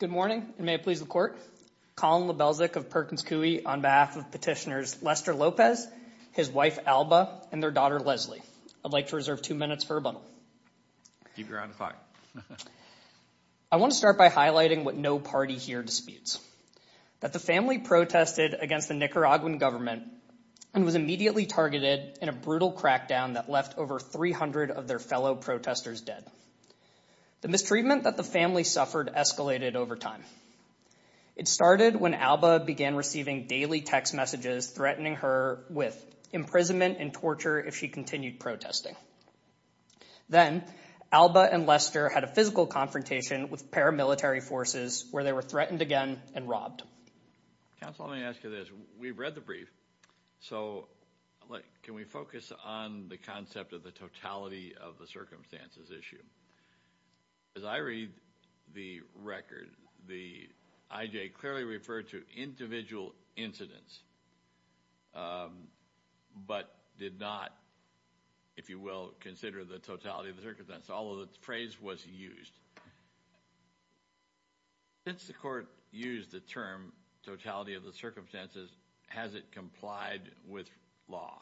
Good morning and may it please the court, Colin Lebelczyk of Perkins Coie on behalf of petitioners Lester Lopez, his wife Alba, and their daughter Leslie. I'd like to reserve two minutes for rebuttal. I want to start by highlighting what no party here disputes, that the family protested against the Nicaraguan government and was immediately targeted in a brutal crackdown that left over 300 of their fellow protesters dead. The mistreatment that the family suffered escalated over time. It started when Alba began receiving daily text messages threatening her with imprisonment and if she continued protesting. Then Alba and Lester had a physical confrontation with paramilitary forces where they were threatened again and robbed. Counsel, let me ask you this. We've read the brief, so can we focus on the concept of the totality of the circumstances issue? As I read the record, the IJ clearly referred to individual incidents but did not, if you will, consider the totality of the circumstances, although the phrase was used. Since the court used the term totality of the circumstances, has it complied with law?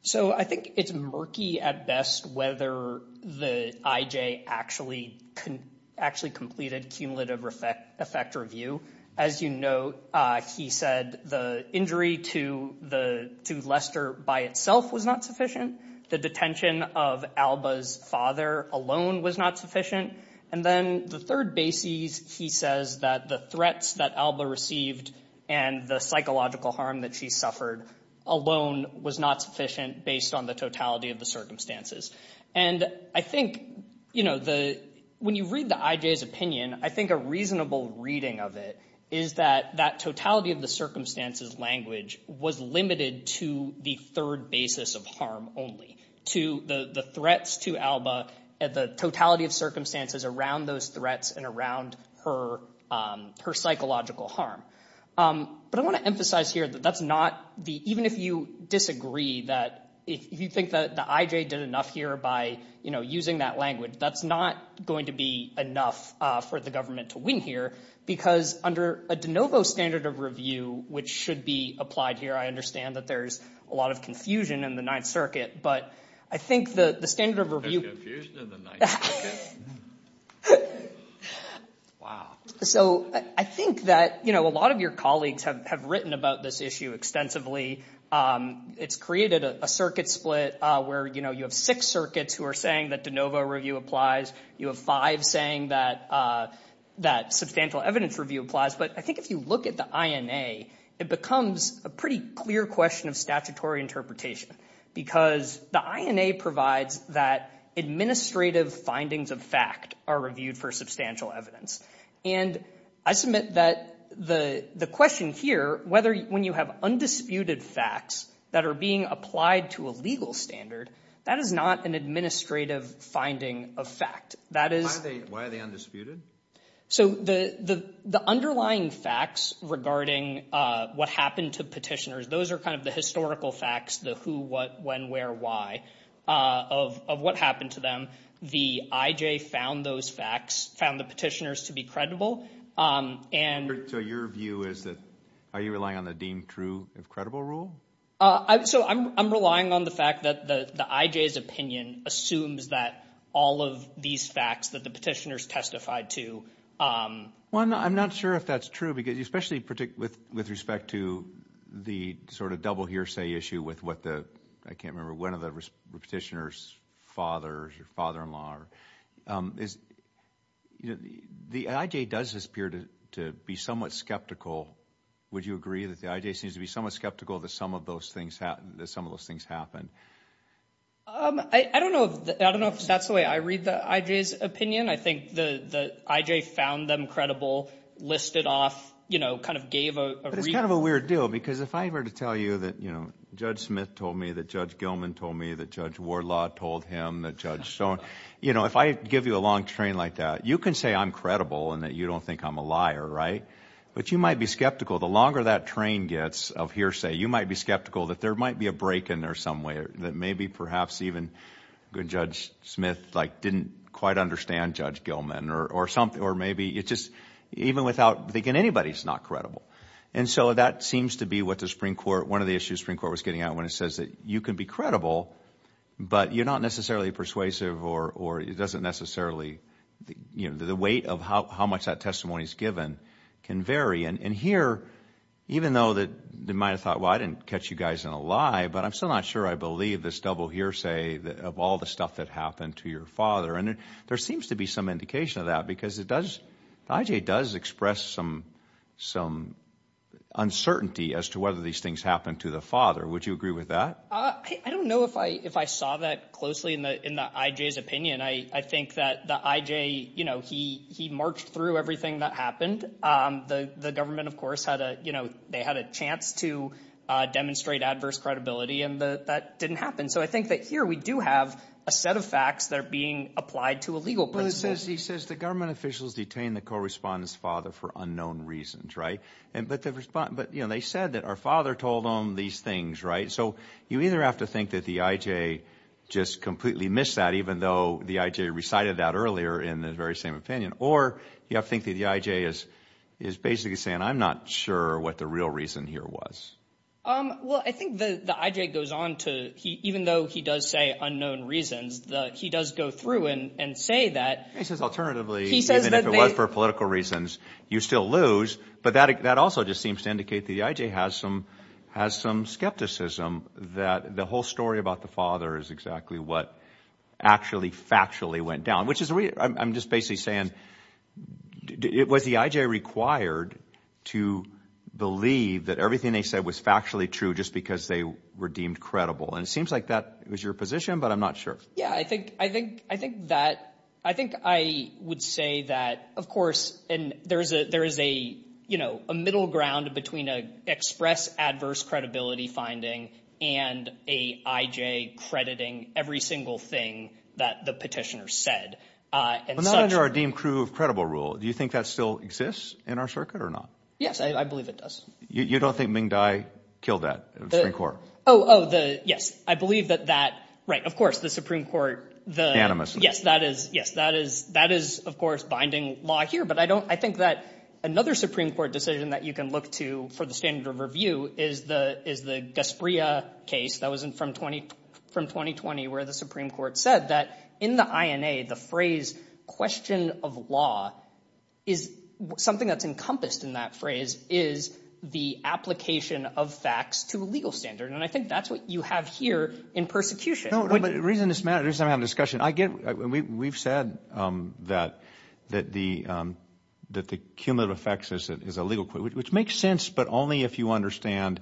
So I think it's murky at best whether the IJ actually completed cumulative effect review. As you know, he said the injury to Lester by itself was not sufficient. The detention of Alba's father alone was not sufficient. And then the third basis, he says that the threats that Alba received and the psychological harm that she suffered alone was not sufficient based on the totality of the circumstances. And I think, you know, when you read the IJ's opinion, I think a reasonable reading of it is that that totality of the circumstances language was limited to the third basis of harm only, to the threats to Alba and the totality of circumstances around those threats and around her psychological harm. But I want to emphasize here that that's not the, even if you disagree that if you think that the IJ did enough here by, you know, using that language, that's not going to be enough for the government to win here because under a de novo standard of review, which should be applied here, I understand that there's a lot of confusion in the Ninth Circuit, but I think the standard of review... So I think that, you know, a lot of your colleagues have written about this issue extensively. It's created a circuit split where, you know, you have six circuits who are saying that de novo review applies. You have five saying that substantial evidence review applies. But I think if you look at the INA, it becomes a pretty clear question of statutory interpretation because the INA provides that administrative findings of fact are reviewed for substantial evidence. And I submit that the question here, whether when you have undisputed facts that are being applied to a legal standard, that is not an administrative finding of fact. That is... Why are they undisputed? So the underlying facts regarding what happened to petitioners, those are kind of the historical facts, the who, what, when, where, why of what happened to them. The IJ found those facts, found the petitioners to be credible, and... So your view is that are you relying on the deemed true if credible rule? So I'm relying on the fact that the IJ's opinion assumes that all of these facts that the petitioners testified to... Well, I'm not sure if that's true because, especially with respect to the sort of double hearsay issue with what the, I can't remember, one of the petitioner's fathers, your father-in-law, is, you know, the IJ does appear to be somewhat skeptical. Would you agree that the IJ seems to be somewhat skeptical that some of those things happened, that some of those things happened? I don't know if that's the way I read the IJ's opinion. I think the IJ found them credible, listed off, you know, kind of gave a... But it's kind of a weird deal because if I were to tell you that, you know, Judge Smith told me, that Judge Gilman told me, that Judge Wardlaw told him, that Judge Stone, you know, if I give you a long train like that, you can say I'm credible and that you don't think I'm a liar, right? But you might be skeptical. The longer that train gets of hearsay, you might be skeptical that there might be a break in there some way, that maybe perhaps even Judge Smith, like, didn't quite understand Judge Gilman or something, or maybe it just, even without thinking, anybody's not credible. And so that seems to be what the Supreme Court, one of the issues the Supreme Court was getting at when it says that you can be credible, but you're not necessarily persuasive or it doesn't necessarily, you know, the weight of how much that testimony is given can vary. And here, even though that they might have thought, well, I didn't catch you guys in a lie, but I'm still not sure I believe this double hearsay of all the stuff that happened to your father. And there seems to be some indication of that because it does, the IJ does express some uncertainty as to whether these things happened to the father. Would you agree with that? I don't know if I saw that closely in the IJ's opinion. I think that the IJ, you know, he marched through everything that happened. The government, of course, had a, you know, they had a chance to demonstrate adverse credibility and that didn't happen. So I think that here we do have a set of facts that are being applied to a legal principle. He says the government officials detained the correspondent's father for unknown reasons, right? But, you know, they said that our father told them these things, right? So you either have to think that the IJ just completely missed that, even though the IJ recited that earlier in the very same opinion, or you have to think that the IJ is basically saying, I'm not sure what the real reason here was. Well, I think the IJ goes on to, even though he does say unknown reasons, he does go through and say that. He says alternatively, even if it was for political reasons, you still lose. But that also just seems to indicate the IJ has some skepticism that the whole story about the father is exactly what actually, factually went down. Which is, I'm just basically saying, was the IJ required to believe that everything they said was factually true just because they were deemed credible? And it seems like that was your position, but I'm not sure. Yeah, I think that, I think I would say that, of course, and there is a, you know, a middle ground between an express adverse credibility finding and a IJ crediting every single thing that the petitioner said. But not under a deemed true of credible rule. Do you think that still exists in our circuit or not? Yes, I believe it does. You don't think Ming Dai killed that Supreme Court? Oh, yes, I believe that that, right, of course, the Supreme Court, the animus, yes, that is, yes, that is, that is, of course, binding law here. But I don't, I think that another Supreme Court decision that you can look to for the standard of review is the, is the Gasparilla case that was in from 20, from 2020, where the Supreme Court said that in the INA, the phrase question of law, is something that's encompassed in that phrase, is the application of facts to a legal standard. And I think that's what you have here in persecution. No, but the reason this matters, I'm having a discussion, I get, we've said that, that the, that the cumulative effects is a legal, which makes sense, but only if you understand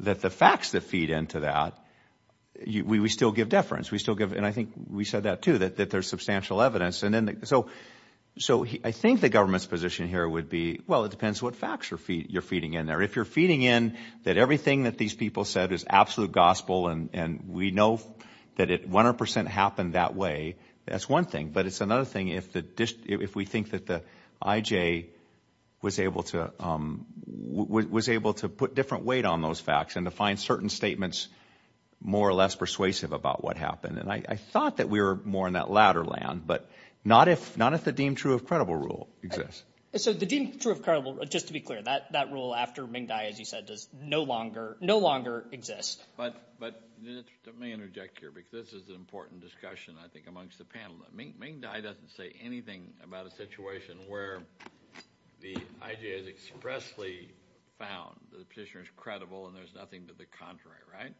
that the facts that feed into that, you, we still give deference, we still give, and I think we said that too, that there's substantial evidence. And then, so, so I think the government's position here would be, well, it depends what facts you're feeding in there. If you're feeding in that everything that these people said is absolute gospel, and we know that it 100% happened that way, that's one thing. But it's another thing if the, if we think that the IJ was able to, was able to put different weight on those facts, and to find certain statements more or less persuasive about what happened. And I thought that we were more in that latter land, but not if, not if the deemed true of credible rule exists. So the deemed true of credible, just to be clear, that, that rule after Ming Dai, as you said, does no longer, no let me interject here, because this is an important discussion, I think, amongst the panel. Ming Dai doesn't say anything about a situation where the IJ has expressly found the petitioner is credible, and there's nothing to the contrary, right?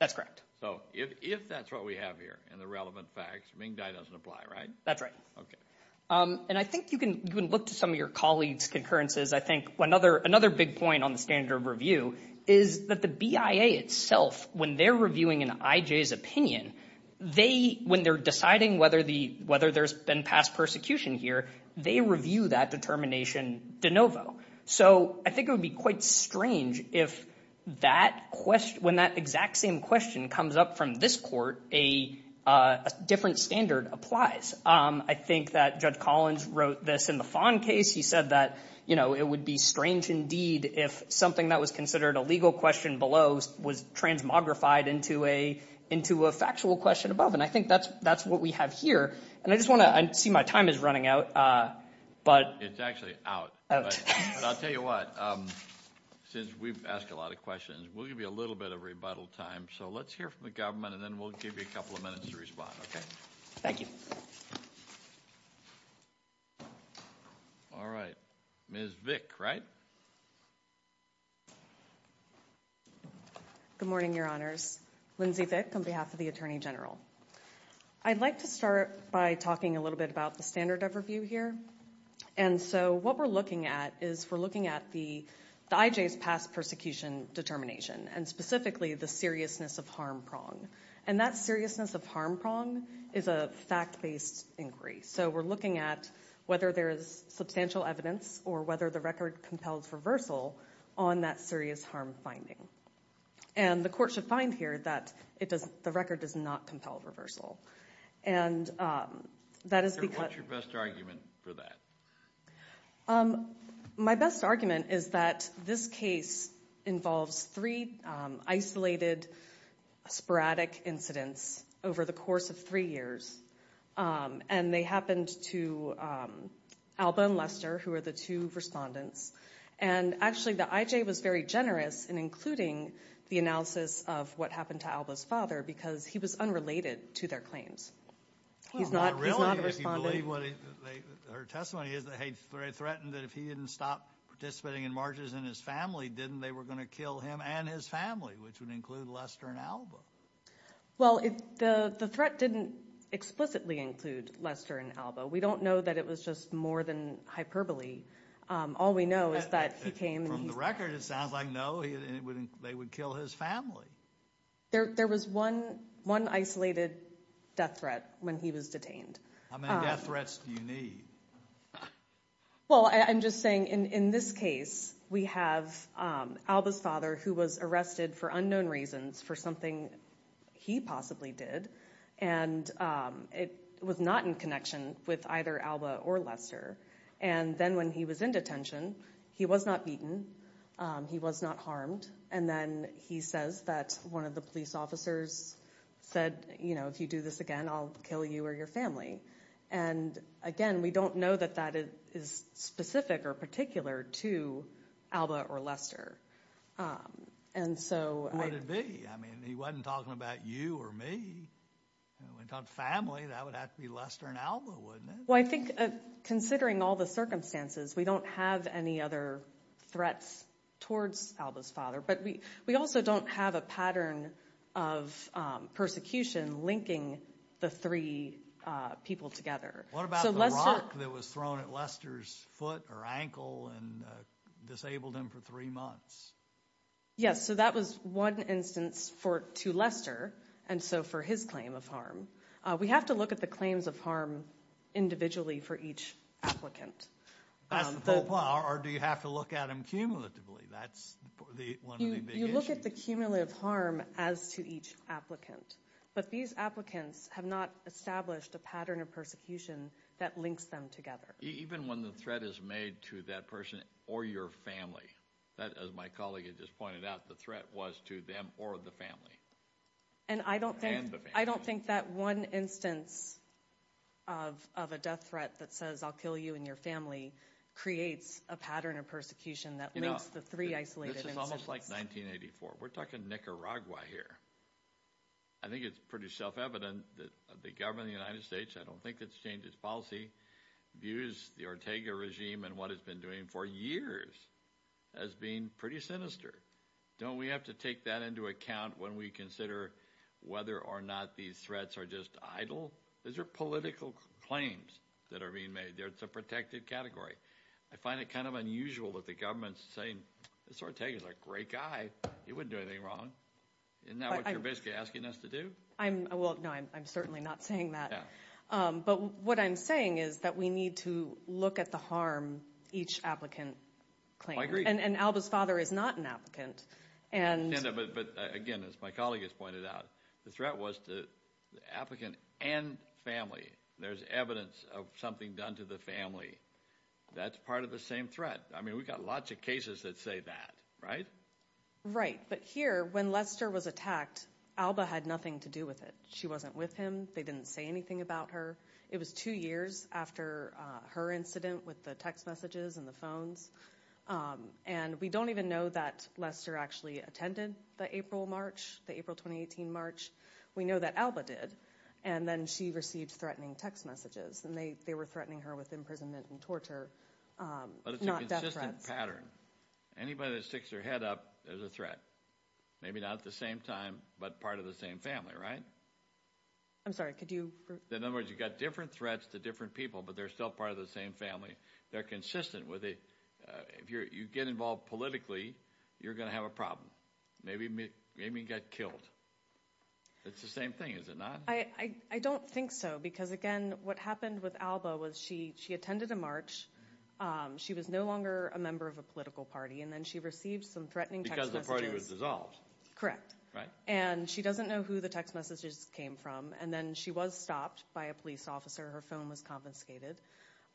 That's correct. So if that's what we have here, and the relevant facts, Ming Dai doesn't apply, right? That's right. Okay. And I think you can, you can look to some of your colleagues' concurrences. I think another, another big point on the standard of review is that the BIA itself, when they're reviewing an IJ's opinion, they, when they're deciding whether the, whether there's been past persecution here, they review that determination de novo. So I think it would be quite strange if that question, when that exact same question comes up from this court, a different standard applies. I think that Judge Collins wrote this in the Fon case. He said that, you know, it would be strange indeed if something that was considered a legal question below was transmogrified into a, into a factual question above. And I think that's, that's what we have here. And I just want to, I see my time is running out, but... It's actually out. I'll tell you what, since we've asked a lot of questions, we'll give you a little bit of rebuttal time. So let's hear from the government, and then we'll give you a couple of minutes to respond, okay? Thank you. All right, Ms. Vick, right? Good morning, Your Honors. Lindsay Vick, on behalf of the Attorney General. I'd like to start by talking a little bit about the standard of review here. And so what we're looking at is, we're looking at the IJ's past persecution determination, and specifically the seriousness of harm prong. And that seriousness of harm prong is a fact-based inquiry. So we're looking at whether there is substantial evidence, or whether the record compels reversal on that serious harm finding. And the court should find here that it doesn't, the record does not compel reversal. And that is because... What's your best argument for that? My best argument is that this case involves three isolated sporadic incidents over the course of three years. And they happened to Alba and Lester, who are the two respondents. And actually, the IJ was very generous in including the analysis of what happened to Alba's father, because he was unrelated to their claims. He's not a respondent. Her testimony is that he threatened that if he didn't stop participating in marches in his family, didn't they were going to kill him and his family, which would include Lester and Alba. Well, the threat didn't explicitly include Lester and Alba. We don't know that it was just more than hyperbole. All we know is that he came... From the record, it sounds like no, they would kill his family. There was one isolated death threat when he was detained. How many death threats do you need? Well, I'm just saying, in this case, we have Alba's father, who was arrested for unknown reasons, for something he possibly did. And it was not in connection with either Alba or Lester. And then when he was in detention, he was not beaten. He was not harmed. And then he says that one of the police officers said, you know, if you do this again, I'll kill you or your family. And again, we don't know that that is specific or particular to Alba or Lester. And so... Would it be? I mean, he wasn't talking about you or me. Family, that would have to be Lester and Alba, wouldn't it? Well, I think, considering all the circumstances, we don't have any other threats towards Alba's father. But we also don't have a pattern of persecution linking the three people together. What about the rock that was thrown at Lester's foot or ankle and disabled him for three months? Yes, so that was one instance to Lester, and so for his claim of harm. We have to look at the claims of harm individually for each applicant. That's the whole point. Or do you have to look at them cumulatively? That's one of the big issues. You look at the cumulative harm as to each applicant. But these applicants have not established a pattern of persecution that links them together. Even when the threat is made to that person or your family? That, as my colleague had just pointed out, the threat was to them or the family. And I don't think that one instance of a death threat that says, I'll kill you and your family, creates a pattern of persecution that links the three isolated individuals. This is almost like 1984. We're talking Nicaragua here. I think it's pretty self-evident that the government of the United States, I don't think it's changed its policy, views the Ortega regime and what it's been doing for years as being pretty sinister. Don't we have to take that into account when we consider whether or not these threats are just idle? These are political claims that are being made. It's a protected category. I find it kind of unusual that the government's saying, this Ortega's a great guy. He wouldn't do anything wrong. Isn't that what you're basically asking us to do? I'm, well, no, I'm certainly not saying that. But what I'm saying is that we need to look at the harm each applicant claims. And Alba's father is not an applicant. But again, as my colleague has pointed out, the threat was to the applicant and family. There's evidence of something done to the family. That's part of the same threat. I mean, we've got lots of cases that say that, right? Right. But here, when Lester was attacked, Alba had nothing to do with it. She wasn't with him. They didn't say anything about her. It was two years after her incident with the text messages and the phones. And we don't even know that Lester actually attended the April March, the April 2018 March. We know that Alba did. And then she received threatening text messages. And they were threatening her with imprisonment and torture, not death threats. But it's a consistent pattern. Anybody that sticks their head up, there's a threat. Maybe not at the same time, but part of the same family, right? I'm sorry, could you? In other words, you've got different threats to different people, but they're still part of the same family. They're consistent with it. If you get involved politically, you're gonna have a problem. Maybe you got killed. It's the same thing, is it not? I don't think so. Because again, what happened with Alba was she attended a march. She was no longer a member of a political party. And then she received some threatening text messages. Because the party was dissolved. Correct. And she doesn't know who the text messages came from. And then she was stopped by a police officer. Her phone was confiscated.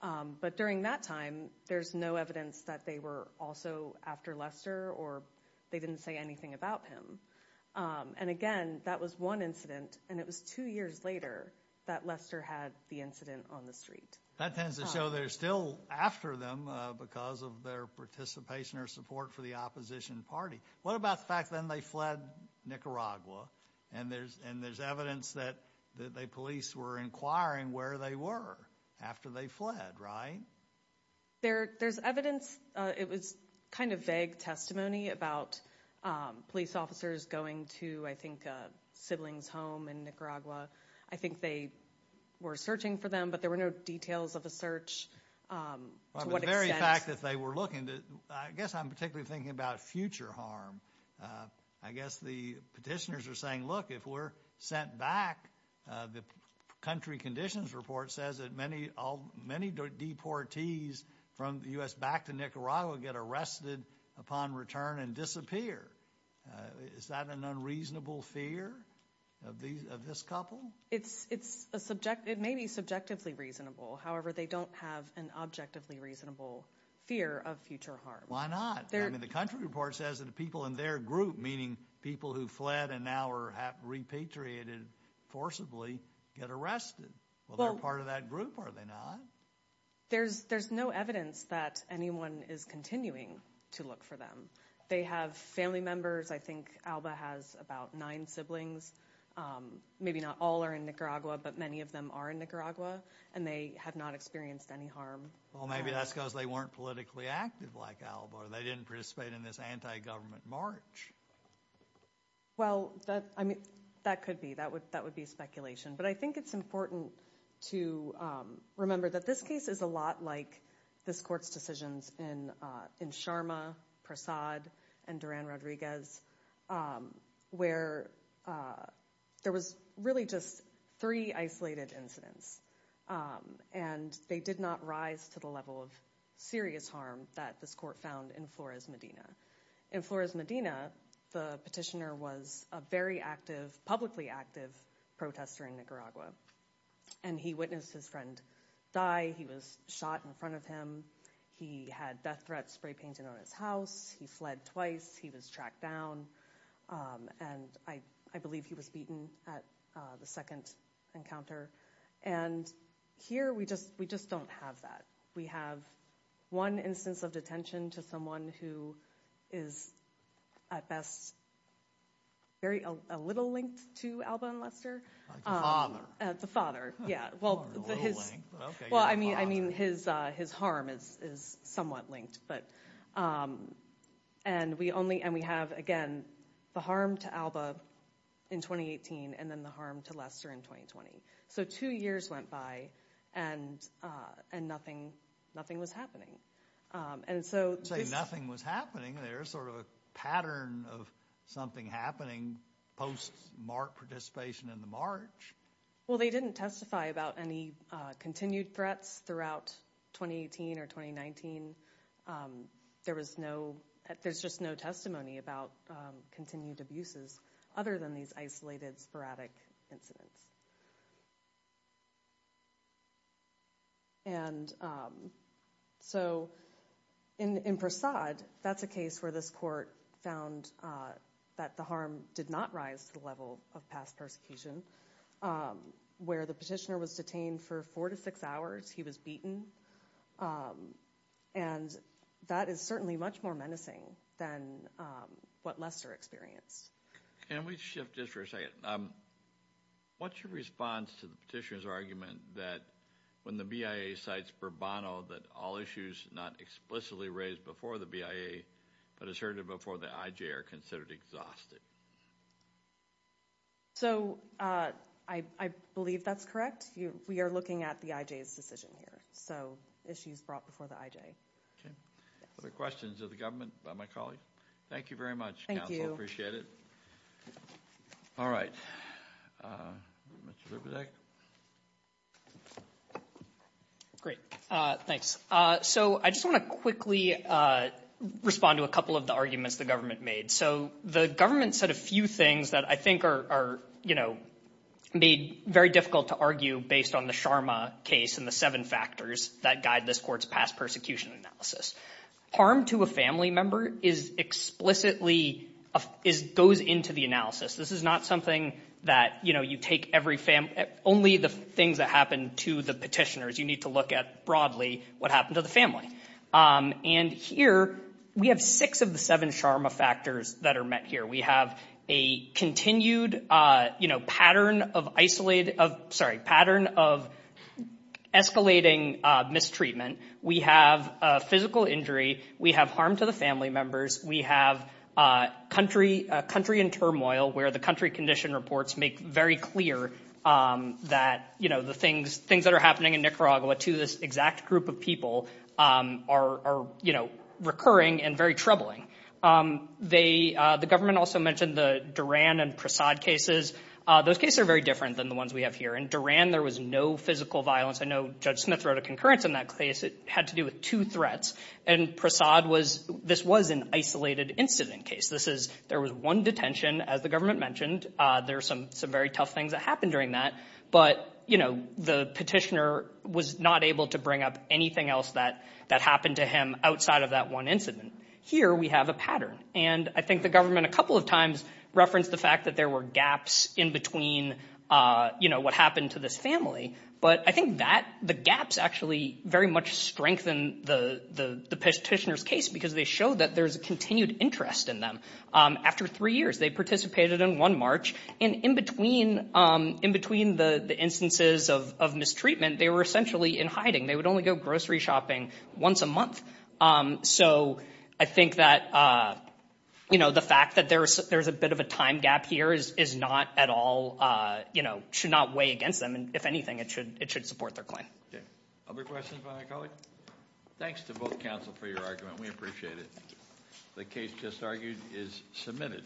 But during that time, there's no evidence that they were also after Lester or they didn't say anything about him. And again, that was one incident. And it was two years later that Lester had the incident on the street. That tends to show they're still after them because of their participation or support for the opposition party. What about the fact then they fled Nicaragua? And there's evidence that the police were inquiring where they were after they fled, right? There's evidence. It was kind of vague testimony about police officers going to, I think, siblings home in Nicaragua. I think they were searching for them, but there were no details of a I guess I'm particularly thinking about future harm. I guess the petitioners are saying, look, if we're sent back, the country conditions report says that many all many deportees from the U.S. back to Nicaragua get arrested upon return and disappear. Is that an unreasonable fear of these of this couple? It's, it's a subject, it may be subjectively reasonable. However, they don't have an objectively reasonable fear of future harm. Why not? I mean, the country report says that the people in their group, meaning people who fled and now are repatriated, forcibly get arrested. Well, they're part of that group, are they not? There's, there's no evidence that anyone is continuing to look for them. They have family members. I think Alba has about nine siblings. Maybe not all are in Nicaragua, but many of them are in Nicaragua and they have not experienced any harm. Well, maybe that's because they weren't politically active like Alba or they didn't participate in this anti-government march. Well, that, I mean, that could be, that would, that would be speculation, but I think it's important to remember that this case is a lot like this court's decisions in, in Sharma, Prasad, and Duran-Rodriguez, where there was really just three isolated incidents and they did not rise to the level of serious harm that this court found in Flores, Medina. In Flores, Medina, the petitioner was a very active, publicly active protester in Nicaragua and he witnessed his friend die. He was shot in front of him. He had death threats spray-painted on his house. He fled twice. He was tracked down and I, I believe he was beaten at the second encounter and here we just, we just don't have that. We have one instance of detention to someone who is at best very, a little linked to Alba and Lester. The father. Yeah, well, his, well, I mean, I mean, his, his harm is, is somewhat linked, but, and we only, and we have, again, the harm to Alba in 2018 and then the harm to Lester in 2020. So, two years went by and, and nothing, nothing was happening. And so... You say nothing was happening. There's sort of a pattern of something happening post-MARC participation in the MARCH. Well, they didn't testify about any continued threats throughout 2018 or 2019. There was no, there's just no testimony about continued abuses other than these isolated, sporadic incidents. And so, in, in Prasad, that's a case where this court found that the harm did not rise to the level of past persecution, where the petitioner was detained for four to six hours, he was beaten, and that is certainly much more menacing than what Lester experienced. Can we shift just for a second? What's your response to the petitioner's argument that when the BIA cites Bourbono, that all issues not explicitly raised before the BIA, but asserted before the IJ, are considered exhausted? So, I, I believe that's correct. You, we are looking at the IJ's decision here. So, issues brought before the IJ. Okay. Other questions of the government by my colleague? Thank you very much, counsel. Thank you. Appreciate it. All right. Mr. Zerbedek? Great. Thanks. So, I just want to quickly respond to a couple of the arguments the government made. So, the government said a few things that I think are, are, you know, made very difficult to argue based on the Sharma case and the seven factors that guide this court's past persecution analysis. Harm to a family member is explicitly, is, goes into the analysis. This is not something that, you know, you take every family, only the things that happen to the petitioners. You need to look at, broadly, what happened to the family. And here, we have six of the seven Sharma factors that are met here. We have a continued, you know, pattern of isolated, of, sorry, pattern of escalating mistreatment. We have a physical injury. We have harm to the family members. We have country, country and turmoil, where the country condition reports make very clear that, you know, the things, things that are happening in Nicaragua to this exact group of people are, you know, recurring and very troubling. They, the government also mentioned the Duran and Prasad cases. Those cases are very different than the ones we have here. In Duran, there was no physical violence. I know Judge Smith wrote a concurrence in that case. It had to do with two threats. And Prasad was, this was an isolated incident case. This is, there was one detention, as the government mentioned. There's some, some very tough things that happened during that. But, you know, the petitioner was not able to bring up anything else that, that happened to him outside of that one incident. Here, we have a pattern. And I think the government, a couple of times, referenced the fact that there were gaps in between, you know, what happened to this family. But I think that, the gaps actually very much strengthened the, the petitioner's case, because they showed that there's a continued interest in them. After three years, they participated in one march. And in between, in between the, the instances of mistreatment, they were essentially in hiding. They would only go grocery shopping once a month. So, I think that, you know, the fact that there's, there's a bit of a time gap here is, is not at all, you know, should not weigh against them. And if anything, it should, it should support their claim. Other questions by a colleague? Thanks to both counsel for your argument. We appreciate it. The case just argued is submitted.